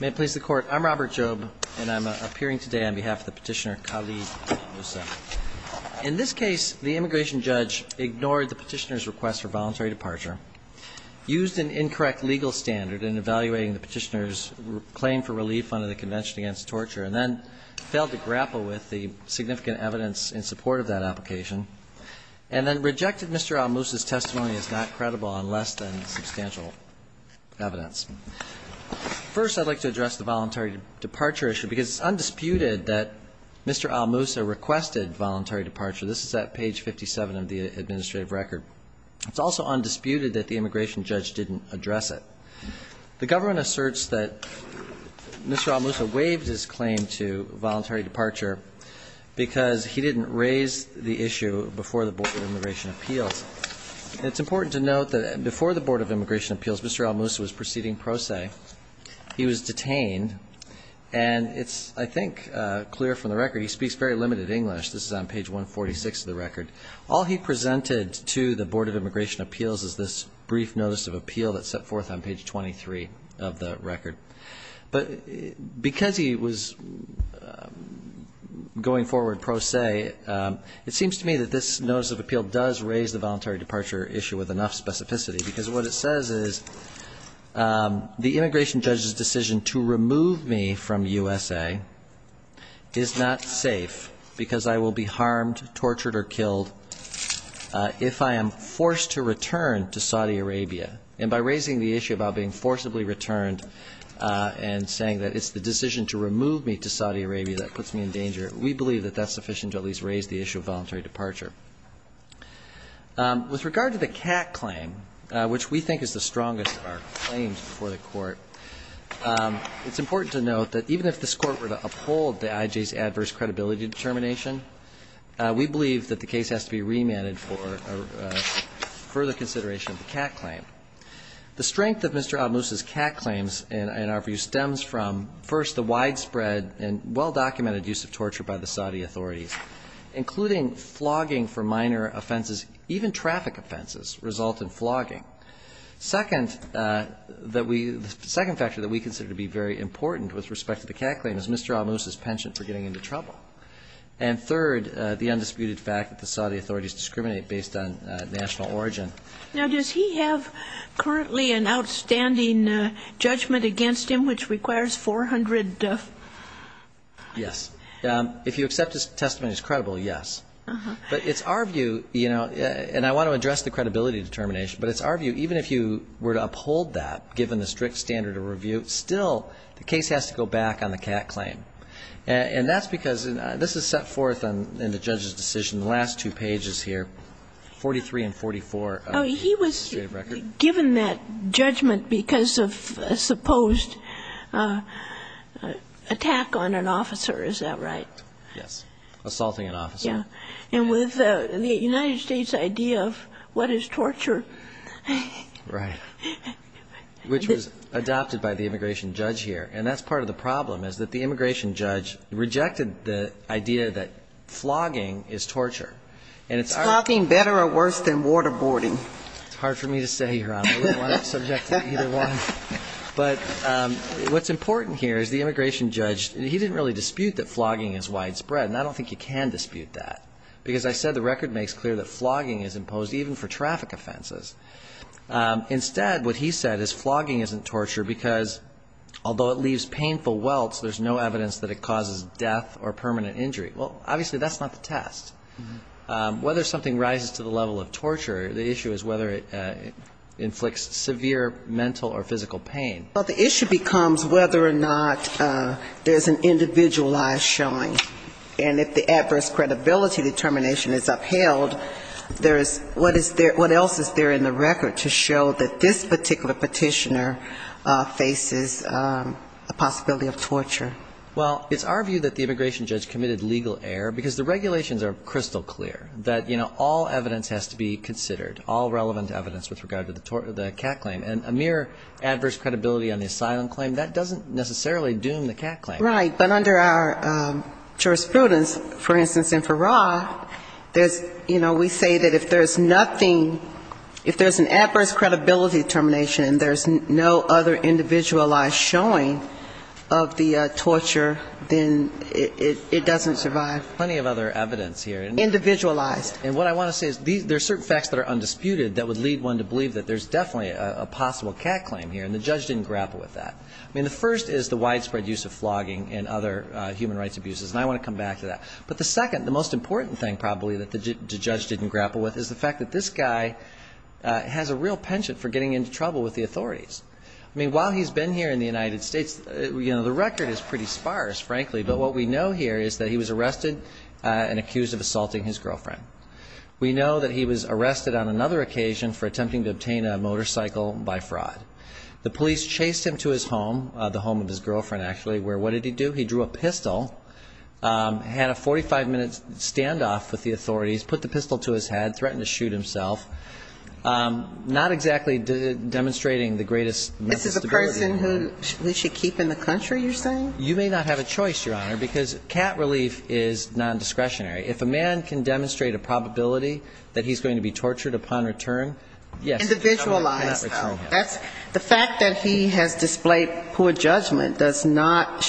May it please the Court, I'm Robert Job and I'm appearing today on behalf of the petitioner Khalid Al-Mousa. In this case, the immigration judge ignored the petitioner's request for voluntary departure, used an incorrect legal standard in evaluating the petitioner's claim for relief under the Convention Against Torture, and then failed to grapple with the significant evidence in support of that application, and then rejected Mr. Al-Mousa's testimony as not credible on less than substantial evidence. First, I'd like to address the voluntary departure issue because it's undisputed that Mr. Al-Mousa requested voluntary departure. This is at page 57 of the administrative record. It's also undisputed that the immigration judge didn't address it. The government asserts that Mr. Al-Mousa waived his claim to voluntary departure because he didn't raise the issue before the Board of Immigration Appeals. It's important to note that before the Board of Immigration Appeals, Mr. Al-Mousa was proceeding pro se. He was detained. And it's, I think, clear from the record he speaks very limited English. This is on page 146 of the record. All he presented to the Board of Immigration Appeals is this brief notice of appeal that's set forth on page 23 of the record. But because he was going forward pro se, it seems to me that this notice of appeal does raise the voluntary departure issue with enough specificity because what it says is the immigration judge's decision to remove me from USA is not safe because I will be harmed, tortured, or killed if I am forced to return to Saudi Arabia. And by raising the issue about being forcibly returned and saying that it's the decision to remove me to Saudi Arabia that puts me in danger, we believe that that's sufficient to at least raise the issue of voluntary departure. With regard to the CAC claim, which we think is the strongest of our claims before the Court, it's important to note that even if this Court were to uphold the IJ's adverse credibility determination, we believe that the case has to be remanded for further consideration of the CAC claim. The strength of Mr. Almus's CAC claims in our view stems from, first, the widespread and well-documented use of torture by the Saudi authorities, including flogging for minor offenses. Even traffic offenses result in flogging. Second, that we the second factor that we consider to be very important with respect to the CAC claim is Mr. Almus's penchant for getting into trouble. And third, the undisputed fact that the Saudi authorities discriminate based on national origin. Now, does he have currently an outstanding judgment against him which requires 400? Yes. If you accept his testimony as credible, yes. But it's our view, you know, and I want to address the credibility determination, but it's our view even if you were to uphold that, given the strict standard of review, still the case has to go back on the CAC claim. And that's because this is set forth in the judge's decision, the last two pages here, 43 and 44 of the administrative record. Oh, he was given that judgment because of a supposed attack on an officer, is that right? Yes. Assaulting an officer. Yeah. And with the United States idea of what is torture. Right. Which was adopted by the immigration judge here. And that's part of the problem is that the immigration judge rejected the idea that flogging is torture. It's nothing better or worse than waterboarding. It's hard for me to say, Your Honor. I don't want to subject you to either one. But what's important here is the immigration judge, he didn't really dispute that flogging is widespread, and I don't think you can dispute that. Because I said the record makes clear that flogging is imposed even for traffic offenses. Instead, what he said is flogging isn't torture because although it leaves painful welts, there's no evidence that it causes death or permanent injury. Well, obviously that's not the test. Whether something rises to the level of torture, the issue is whether it inflicts severe mental or physical pain. Well, the issue becomes whether or not there's an individualized showing. And if the adverse credibility determination is upheld, what else is there in the record to show that this particular petitioner faces a possibility of torture? Well, it's our view that the immigration judge committed legal error because the regulations are crystal clear that, you know, all evidence has to be considered, all relevant evidence with regard to the cat claim. And a mere adverse credibility on the asylum claim, that doesn't necessarily doom the cat claim. But under our jurisprudence, for instance, in Farrar, there's, you know, we say that if there's nothing, if there's an adverse credibility determination and there's no other individualized showing of the torture, then it doesn't survive. There's plenty of other evidence here. Individualized. And what I want to say is there's certain facts that are undisputed that would lead one to believe that there's definitely a possible cat claim here, and the judge didn't grapple with that. I mean, the first is the widespread use of flogging and other human rights abuses, and I want to come back to that. But the second, the most important thing probably that the judge didn't grapple with, is the fact that this guy has a real penchant for getting into trouble with the authorities. I mean, while he's been here in the United States, you know, the record is pretty sparse, frankly, but what we know here is that he was arrested and accused of assaulting his girlfriend. We know that he was arrested on another occasion for attempting to obtain a motorcycle by fraud. The police chased him to his home, the home of his girlfriend, actually, where what did he do? He drew a pistol, had a 45-minute standoff with the authorities, put the pistol to his head, threatened to shoot himself. Not exactly demonstrating the greatest sensibility. This is a person who we should keep in the country, you're saying? You may not have a choice, Your Honor, because cat relief is nondiscretionary. If a man can demonstrate a probability that he's going to be tortured upon return, yes. Individualized, though. The fact that he has displayed poor judgment does not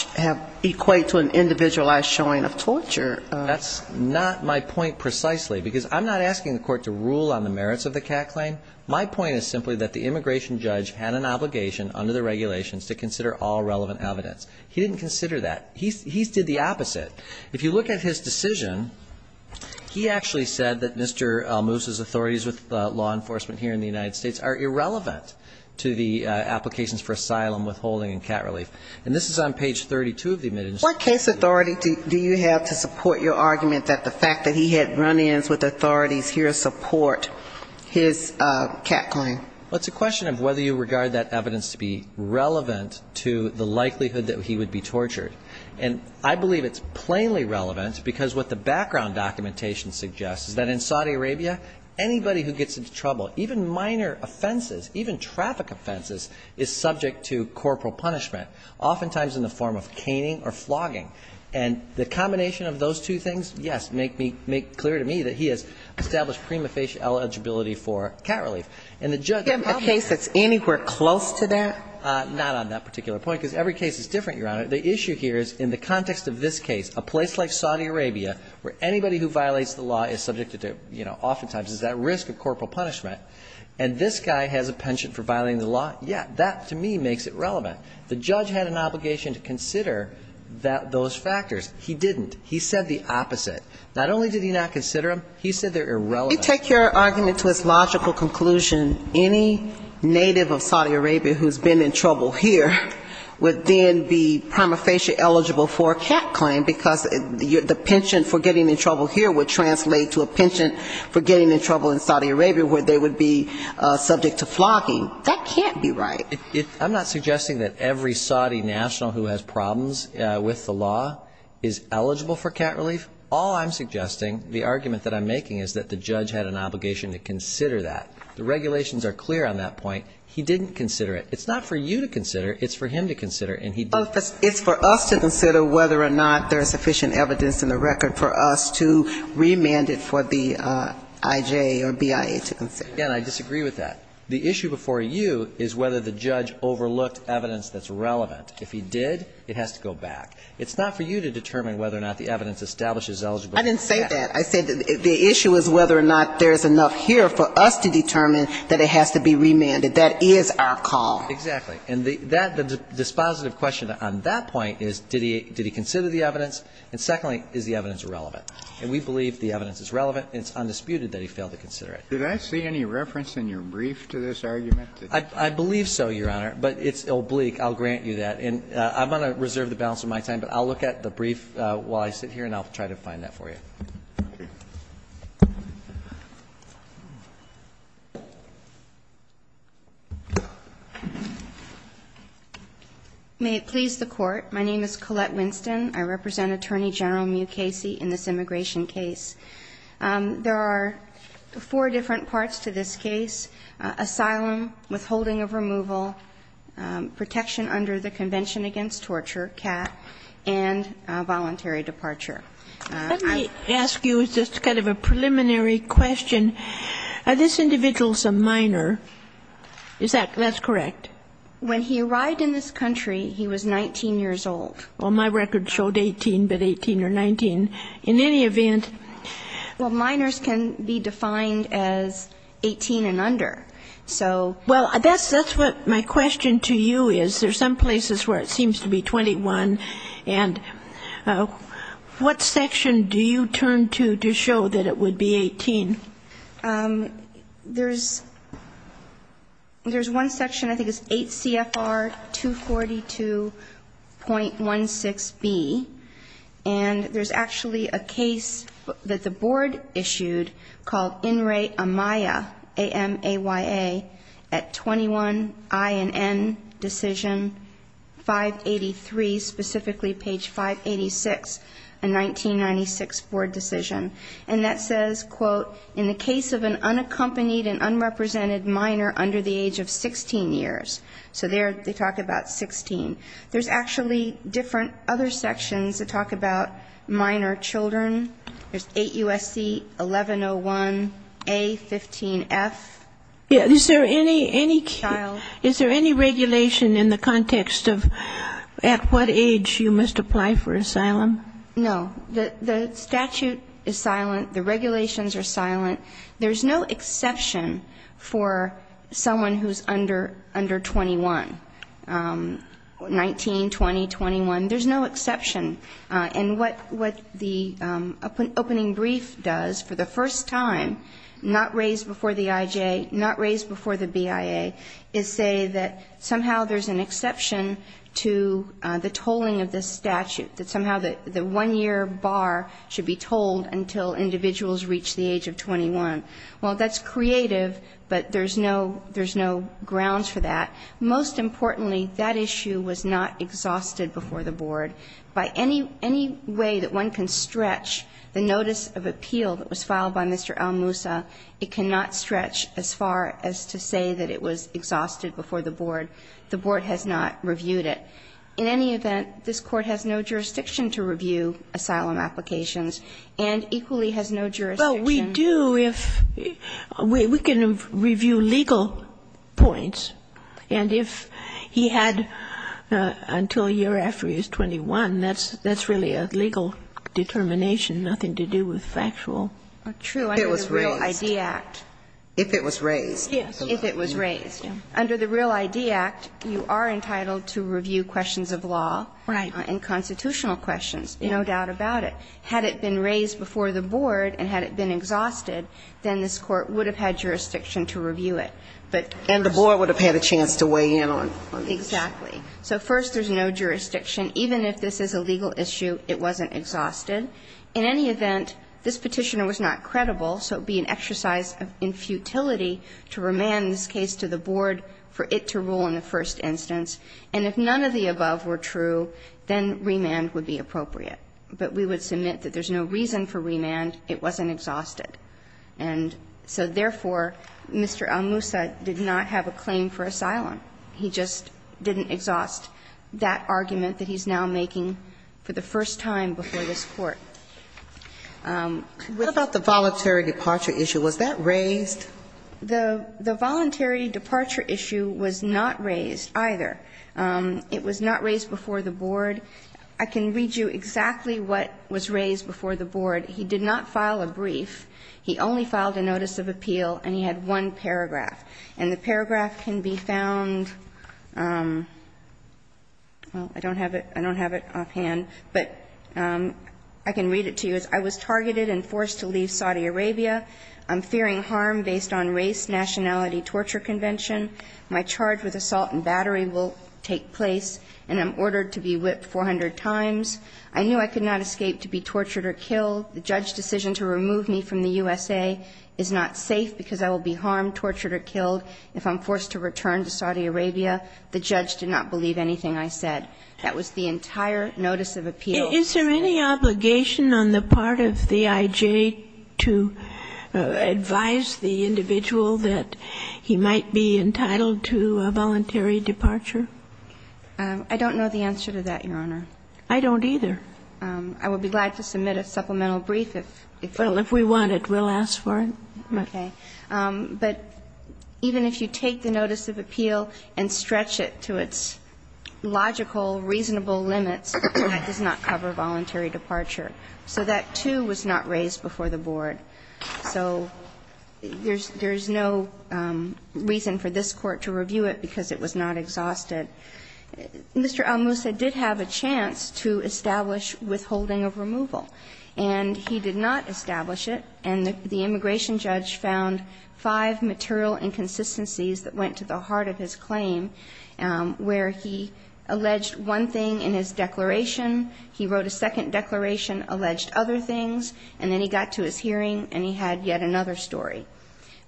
equate to an individualized showing of torture. That's not my point precisely, because I'm not asking the court to rule on the merits of the cat claim. My point is simply that the immigration judge had an obligation under the regulations to consider all relevant evidence. He didn't consider that. He did the opposite. If you look at his decision, he actually said that Mr. Almus's authorities with law enforcement here in the United States are irrelevant. To the applications for asylum, withholding, and cat relief. And this is on page 32 of the admittance. What case authority do you have to support your argument that the fact that he had run-ins with authorities here support his cat claim? Well, it's a question of whether you regard that evidence to be relevant to the likelihood that he would be tortured. And I believe it's plainly relevant, because what the background documentation suggests is that in Saudi Arabia, anybody who gets into trouble, even minor offenses, even traffic offenses, is subject to corporal punishment, oftentimes in the form of caning or flogging. And the combination of those two things, yes, make me – make clear to me that he has established prima facie eligibility for cat relief. And the judge – Do you have a case that's anywhere close to that? Not on that particular point, because every case is different, Your Honor. The issue here is in the context of this case, a place like Saudi Arabia where anybody who violates the law is subject to, you know, oftentimes is at risk of corporal punishment, and this guy has a penchant for violating the law, yeah, that to me makes it relevant. The judge had an obligation to consider that – those factors. He didn't. He said the opposite. Not only did he not consider them, he said they're irrelevant. Let me take your argument to its logical conclusion. Any native of Saudi Arabia who's been in trouble here would then be prima facie eligible for a cat claim, because the penchant for getting in trouble here would translate to a penchant for getting in trouble in Saudi Arabia where they would be subject to flogging. That can't be right. I'm not suggesting that every Saudi national who has problems with the law is eligible for cat relief. All I'm suggesting, the argument that I'm making is that the judge had an obligation to consider that. The regulations are clear on that point. He didn't consider it. It's not for you to consider. It's for him to consider, and he did. It's for us to consider whether or not there's sufficient evidence in the record for us to remand it for the IJ or BIA to consider. Again, I disagree with that. The issue before you is whether the judge overlooked evidence that's relevant. If he did, it has to go back. It's not for you to determine whether or not the evidence establishes eligibility for cat relief. I didn't say that. I said the issue is whether or not there's enough here for us to determine that it has to be remanded. That is our call. Exactly. And that, the dispositive question on that point is did he consider the evidence, and secondly, is the evidence relevant? And we believe the evidence is relevant, and it's undisputed that he failed to consider it. Did I see any reference in your brief to this argument? I believe so, Your Honor, but it's oblique. I'll grant you that. And I'm going to reserve the balance of my time, but I'll look at the brief while I sit here and I'll try to find that for you. Thank you. May it please the Court. My name is Colette Winston. I represent Attorney General Mew Casey in this immigration case. There are four different parts to this case, asylum, withholding of removal, protection under the Convention Against Torture, CAT, and voluntary departure. Let me ask you just kind of a preliminary question. This individual is a minor. Is that correct? When he arrived in this country, he was 19 years old. Well, my record showed 18, but 18 or 19. In any event. Well, minors can be defined as 18 and under. Well, that's what my question to you is. There are some places where it seems to be 21. And what section do you turn to to show that it would be 18? There's one section, I think it's 8 CFR 242.16B. And there's actually a case that the Board issued called In Re Amaya, A-M-A-Y-A, at 21 I and N decision 583, specifically page 586, a 1996 Board decision. And that says, quote, in the case of an unaccompanied and unrepresented minor under the age of 16 years. So there they talk about 16. There's actually different other sections that talk about minor children. There's 8 USC 1101A-15F. Is there any regulation in the context of at what age you must apply for asylum? No. The statute is silent. The regulations are silent. There's no exception for someone who's under 21. 19, 20, 21, there's no exception. And what the opening brief does for the first time, not raised before the IJ, not raised before the BIA, is say that somehow there's an exception to the tolling of this statute, that somehow the one-year bar should be tolled until individuals reach the age of 21. Well, that's creative, but there's no grounds for that. Most importantly, that issue was not exhausted before the Board. By any way that one can stretch the notice of appeal that was filed by Mr. Almusa, it cannot stretch as far as to say that it was exhausted before the Board. The Board has not reviewed it. In any event, this Court has no jurisdiction to review asylum applications and equally has no jurisdiction. Well, we do if we can review legal points. And if he had until a year after he was 21, that's really a legal determination, nothing to do with factual. If it was raised. Under the Real ID Act. If it was raised. Yes. If it was raised. Under the Real ID Act, you are entitled to review questions of law. Right. And constitutional questions. There's no doubt about it. Had it been raised before the Board and had it been exhausted, then this Court would have had jurisdiction to review it. But. And the Board would have had a chance to weigh in on this. Exactly. So first, there's no jurisdiction. Even if this is a legal issue, it wasn't exhausted. In any event, this Petitioner was not credible, so it would be an exercise in futility to remand this case to the Board for it to rule in the first instance. And if none of the above were true, then remand would be appropriate. But we would submit that there's no reason for remand, it wasn't exhausted. And so, therefore, Mr. El Moussa did not have a claim for asylum. He just didn't exhaust that argument that he's now making for the first time before this Court. What about the voluntary departure issue? Was that raised? The voluntary departure issue was not raised either. It was not raised before the Board. I can read you exactly what was raised before the Board. He did not file a brief. He only filed a notice of appeal, and he had one paragraph. And the paragraph can be found, well, I don't have it, I don't have it offhand, but I can read it to you as, I was targeted and forced to leave Saudi Arabia. I'm fearing harm based on race, nationality, torture convention. My charge with assault and battery will take place. And I'm ordered to be whipped 400 times. I knew I could not escape to be tortured or killed. The judge's decision to remove me from the USA is not safe because I will be harmed, tortured or killed if I'm forced to return to Saudi Arabia. The judge did not believe anything I said. That was the entire notice of appeal. Is there any obligation on the part of the I.J. to advise the individual that he might be entitled to a voluntary departure? I don't know the answer to that, Your Honor. I don't either. I would be glad to submit a supplemental brief. Well, if we want it, we'll ask for it. Okay. But even if you take the notice of appeal and stretch it to its logical, reasonable limits, it does not cover voluntary departure. So that, too, was not raised before the board. So there's no reason for this Court to review it because it was not exhausted. Mr. Al Musa did have a chance to establish withholding of removal. And he did not establish it. And the immigration judge found five material inconsistencies that went to the heart of his claim where he alleged one thing in his declaration. He wrote a second declaration, alleged other things, and then he got to his hearing and he had yet another story,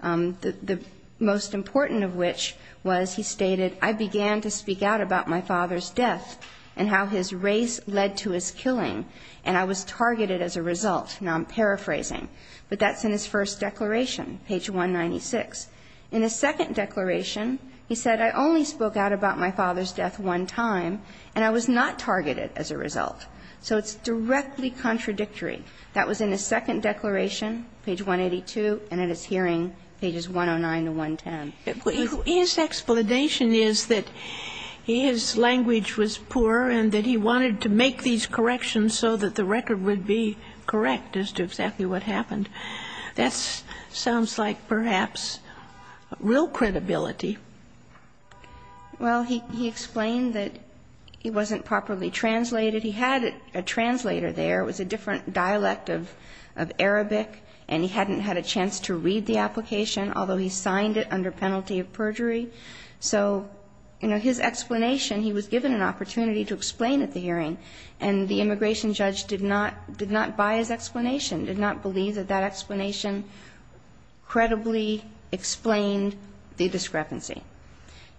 the most important of which was he stated, I began to speak out about my father's death and how his race led to his killing, and I was targeted as a result. Now I'm paraphrasing. But that's in his first declaration, page 196. In his second declaration, he said, I only spoke out about my father's death one time, and I was not targeted as a result. So it's directly contradictory. That was in his second declaration, page 182, and in his hearing, pages 109 to 110. But his explanation is that his language was poor and that he wanted to make these corrections so that the record would be correct as to exactly what happened. That sounds like perhaps real credibility. Well, he explained that it wasn't properly translated. He had a translator there. It was a different dialect of Arabic, and he hadn't had a chance to read the application, although he signed it under penalty of perjury. So, you know, his explanation, he was given an opportunity to explain at the hearing, and the immigration judge did not buy his explanation, did not believe that that explanation credibly explained the discrepancy.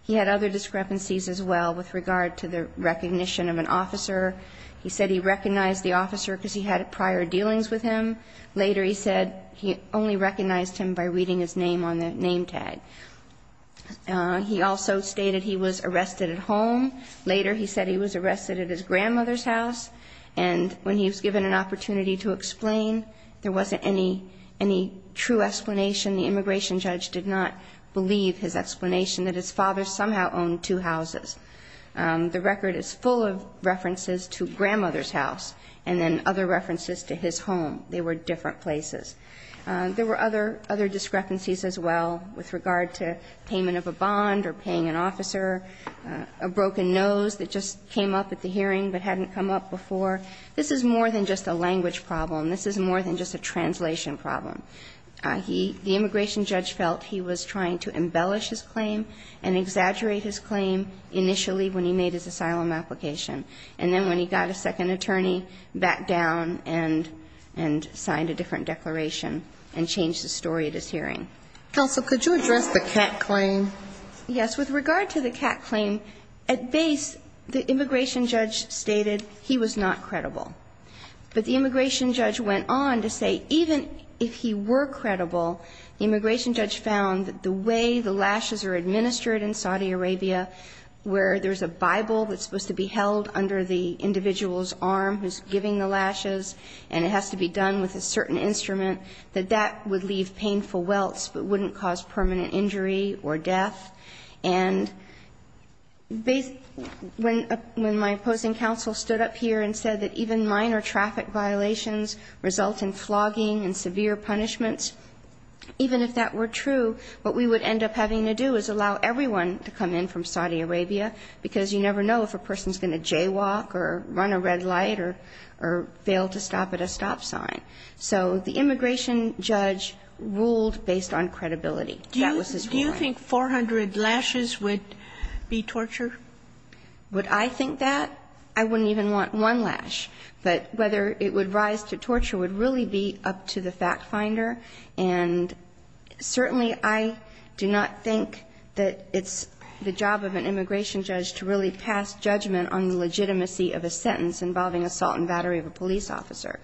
He had other discrepancies as well with regard to the recognition of an officer. He said he recognized the officer because he had prior dealings with him. Later he said he only recognized him by reading his name on the name tag. He also stated he was arrested at home. Later he said he was arrested at his grandmother's house. And when he was given an opportunity to explain, there wasn't any true explanation. The immigration judge did not believe his explanation, that his father somehow owned two houses. The record is full of references to grandmother's house and then other references to his home. They were different places. There were other discrepancies as well with regard to payment of a bond or paying an officer, a broken nose that just came up at the hearing but hadn't come up before. This is more than just a language problem. This is more than just a translation problem. He – the immigration judge felt he was trying to embellish his claim and exaggerate his claim initially when he made his asylum application. And then when he got a second attorney, backed down and signed a different declaration and changed the story at his hearing. Counsel, could you address the CAC claim? Yes. With regard to the CAC claim, at base the immigration judge stated he was not credible. But the immigration judge went on to say even if he were credible, the immigration judge found that the way the lashes are administered in Saudi Arabia where there's a Bible that's supposed to be held under the individual's arm who's giving the lashes and it has to be done with a certain instrument, that that would leave painful welts but wouldn't cause permanent injury or death. And when my opposing counsel stood up here and said that even minor traffic violations result in flogging and severe punishments, even if that were true, what we would end up having to do is allow everyone to come in from Saudi Arabia, because you never know if a person's going to jaywalk or run a red light or fail to stop at a stop sign. So the immigration judge ruled based on credibility. That was his point. Do you think 400 lashes would be torture? Would I think that? I wouldn't even want one lash. But whether it would rise to torture would really be up to the fact finder. And certainly I do not think that it's the job of an immigration judge to really pass judgment on the legitimacy of a sentence involving assault and battery of a police officer.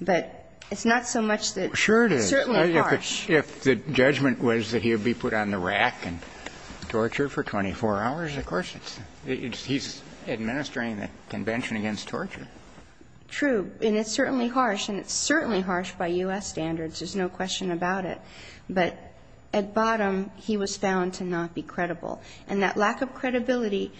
But it's not so much that it's certainly harsh. Sure it is. If the judgment was that he would be put on the rack and tortured for 24 hours, of course it's he's administering the Convention against Torture. True. And it's certainly harsh. And it's certainly harsh by U.S. standards. There's no question about it. But at bottom, he was found to not be credible. And that lack of credibility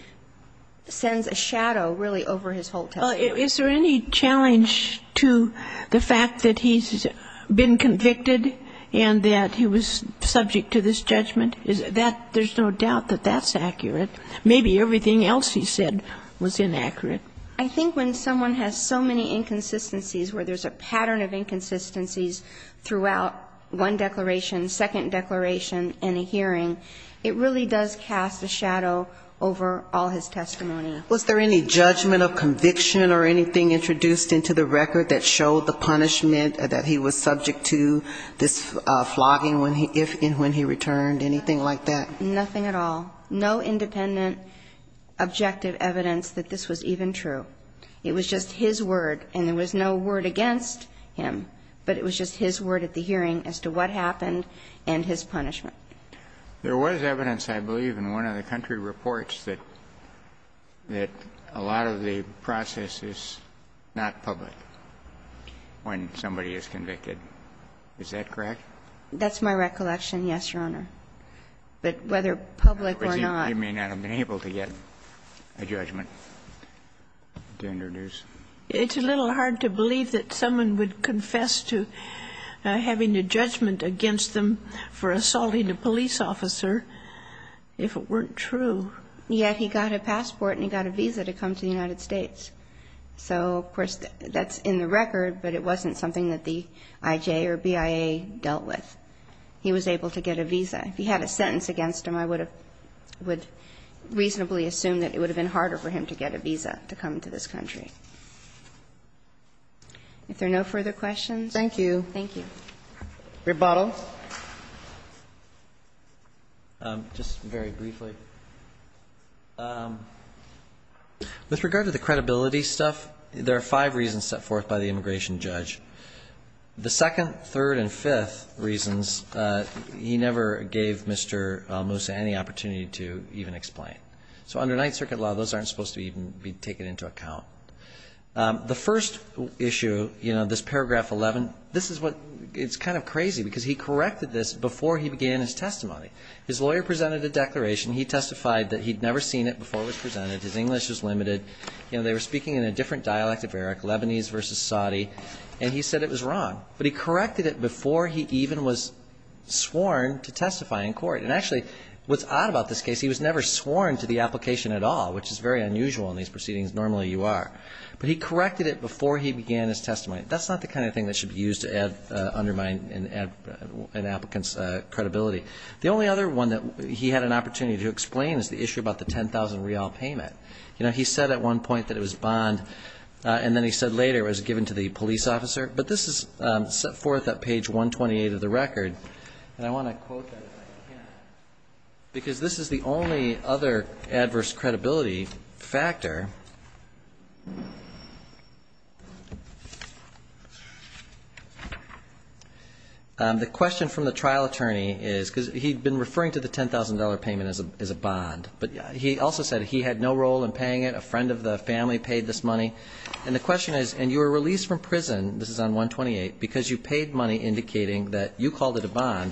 sends a shadow really over his whole testimony. Is there any challenge to the fact that he's been convicted and that he was subject to this judgment? There's no doubt that that's accurate. Maybe everything else he said was inaccurate. I think when someone has so many inconsistencies where there's a pattern of inconsistencies throughout one declaration, second declaration, and a hearing, it really does cast a shadow over all his testimony. Was there any judgment of conviction or anything introduced into the record that showed the punishment, that he was subject to this flogging if and when he returned, anything like that? Nothing at all. No independent objective evidence that this was even true. It was just his word. And there was no word against him. But it was just his word at the hearing as to what happened and his punishment. There was evidence, I believe, in one of the country reports that a lot of the process is not public when somebody is convicted. Is that correct? That's my recollection, yes, Your Honor. But whether public or not. You may not have been able to get a judgment to introduce. It's a little hard to believe that someone would confess to having a judgment against them for assaulting a police officer if it weren't true. Yet he got a passport and he got a visa to come to the United States. So, of course, that's in the record, but it wasn't something that the IJ or BIA dealt with. He was able to get a visa. If he had a sentence against him, I would reasonably assume that it would have been harder for him to get a visa to come to this country. If there are no further questions. Thank you. Thank you. Rebuttal. Just very briefly. With regard to the credibility stuff, there are five reasons set forth by the immigration judge. The second, third, and fifth reasons, he never gave Mr. Musa any opportunity to even explain. So under Ninth Circuit law, those aren't supposed to even be taken into account. The first issue, you know, this paragraph 11, this is what, it's kind of crazy because he corrected this before he began his testimony. His lawyer presented a declaration. He testified that he'd never seen it before it was presented. His English was limited. You know, they were speaking in a different dialect of Arabic, Lebanese versus Saudi, and he said it was wrong. But he corrected it before he even was sworn to testify in court. And actually, what's odd about this case, he was never sworn to the application at all, which is very unusual in these proceedings. Normally you are. But he corrected it before he began his testimony. That's not the kind of thing that should be used to undermine an applicant's credibility. The only other one that he had an opportunity to explain is the issue about the 10,000 riyal payment. You know, he said at one point that it was bond, and then he said later it was given to the police officer. But this is set forth at page 128 of the record. And I want to quote that if I can. Because this is the only other adverse credibility factor. The question from the trial attorney is, because he'd been referring to the $10,000 payment as a bond, but he also said he had no role in paying it. A friend of the family paid this money. And the question is, and you were released from prison, this is on 128, because you paid money indicating that you called it a bond.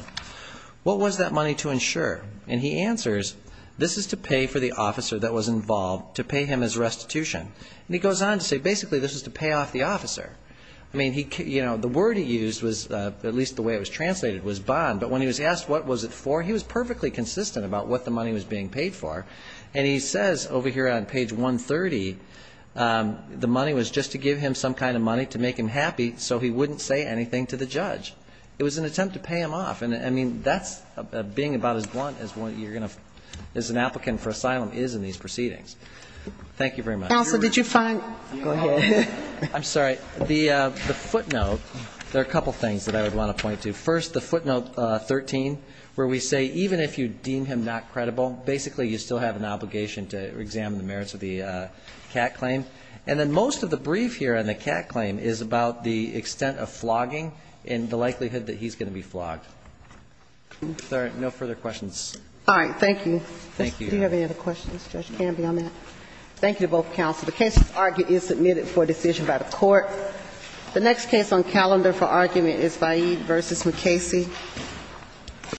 What was that money to insure? And he answers, this is to pay for the officer that was involved, to pay him his restitution. And he goes on to say basically this was to pay off the officer. I mean, you know, the word he used was, at least the way it was translated, was bond. But when he was asked what was it for, he was perfectly consistent about what the money was being paid for. And he says over here on page 130, the money was just to give him some kind of money to make him happy so he wouldn't say anything to the judge. It was an attempt to pay him off. And, I mean, that's being about as blunt as an applicant for asylum is in these proceedings. Thank you very much. Counsel, did you find? Go ahead. I'm sorry. The footnote, there are a couple things that I would want to point to. First, the footnote 13, where we say even if you deem him not credible, basically you still have an obligation to examine the merits of the CAT claim. And then most of the brief here on the CAT claim is about the extent of flogging and the likelihood that he's going to be flogged. If there are no further questions. All right. Thank you. Thank you. Do you have any other questions? Judge Canby on that. Thank you to both counsel. The case is submitted for decision by the court. The next case on calendar for argument is Vahid v. McKacy.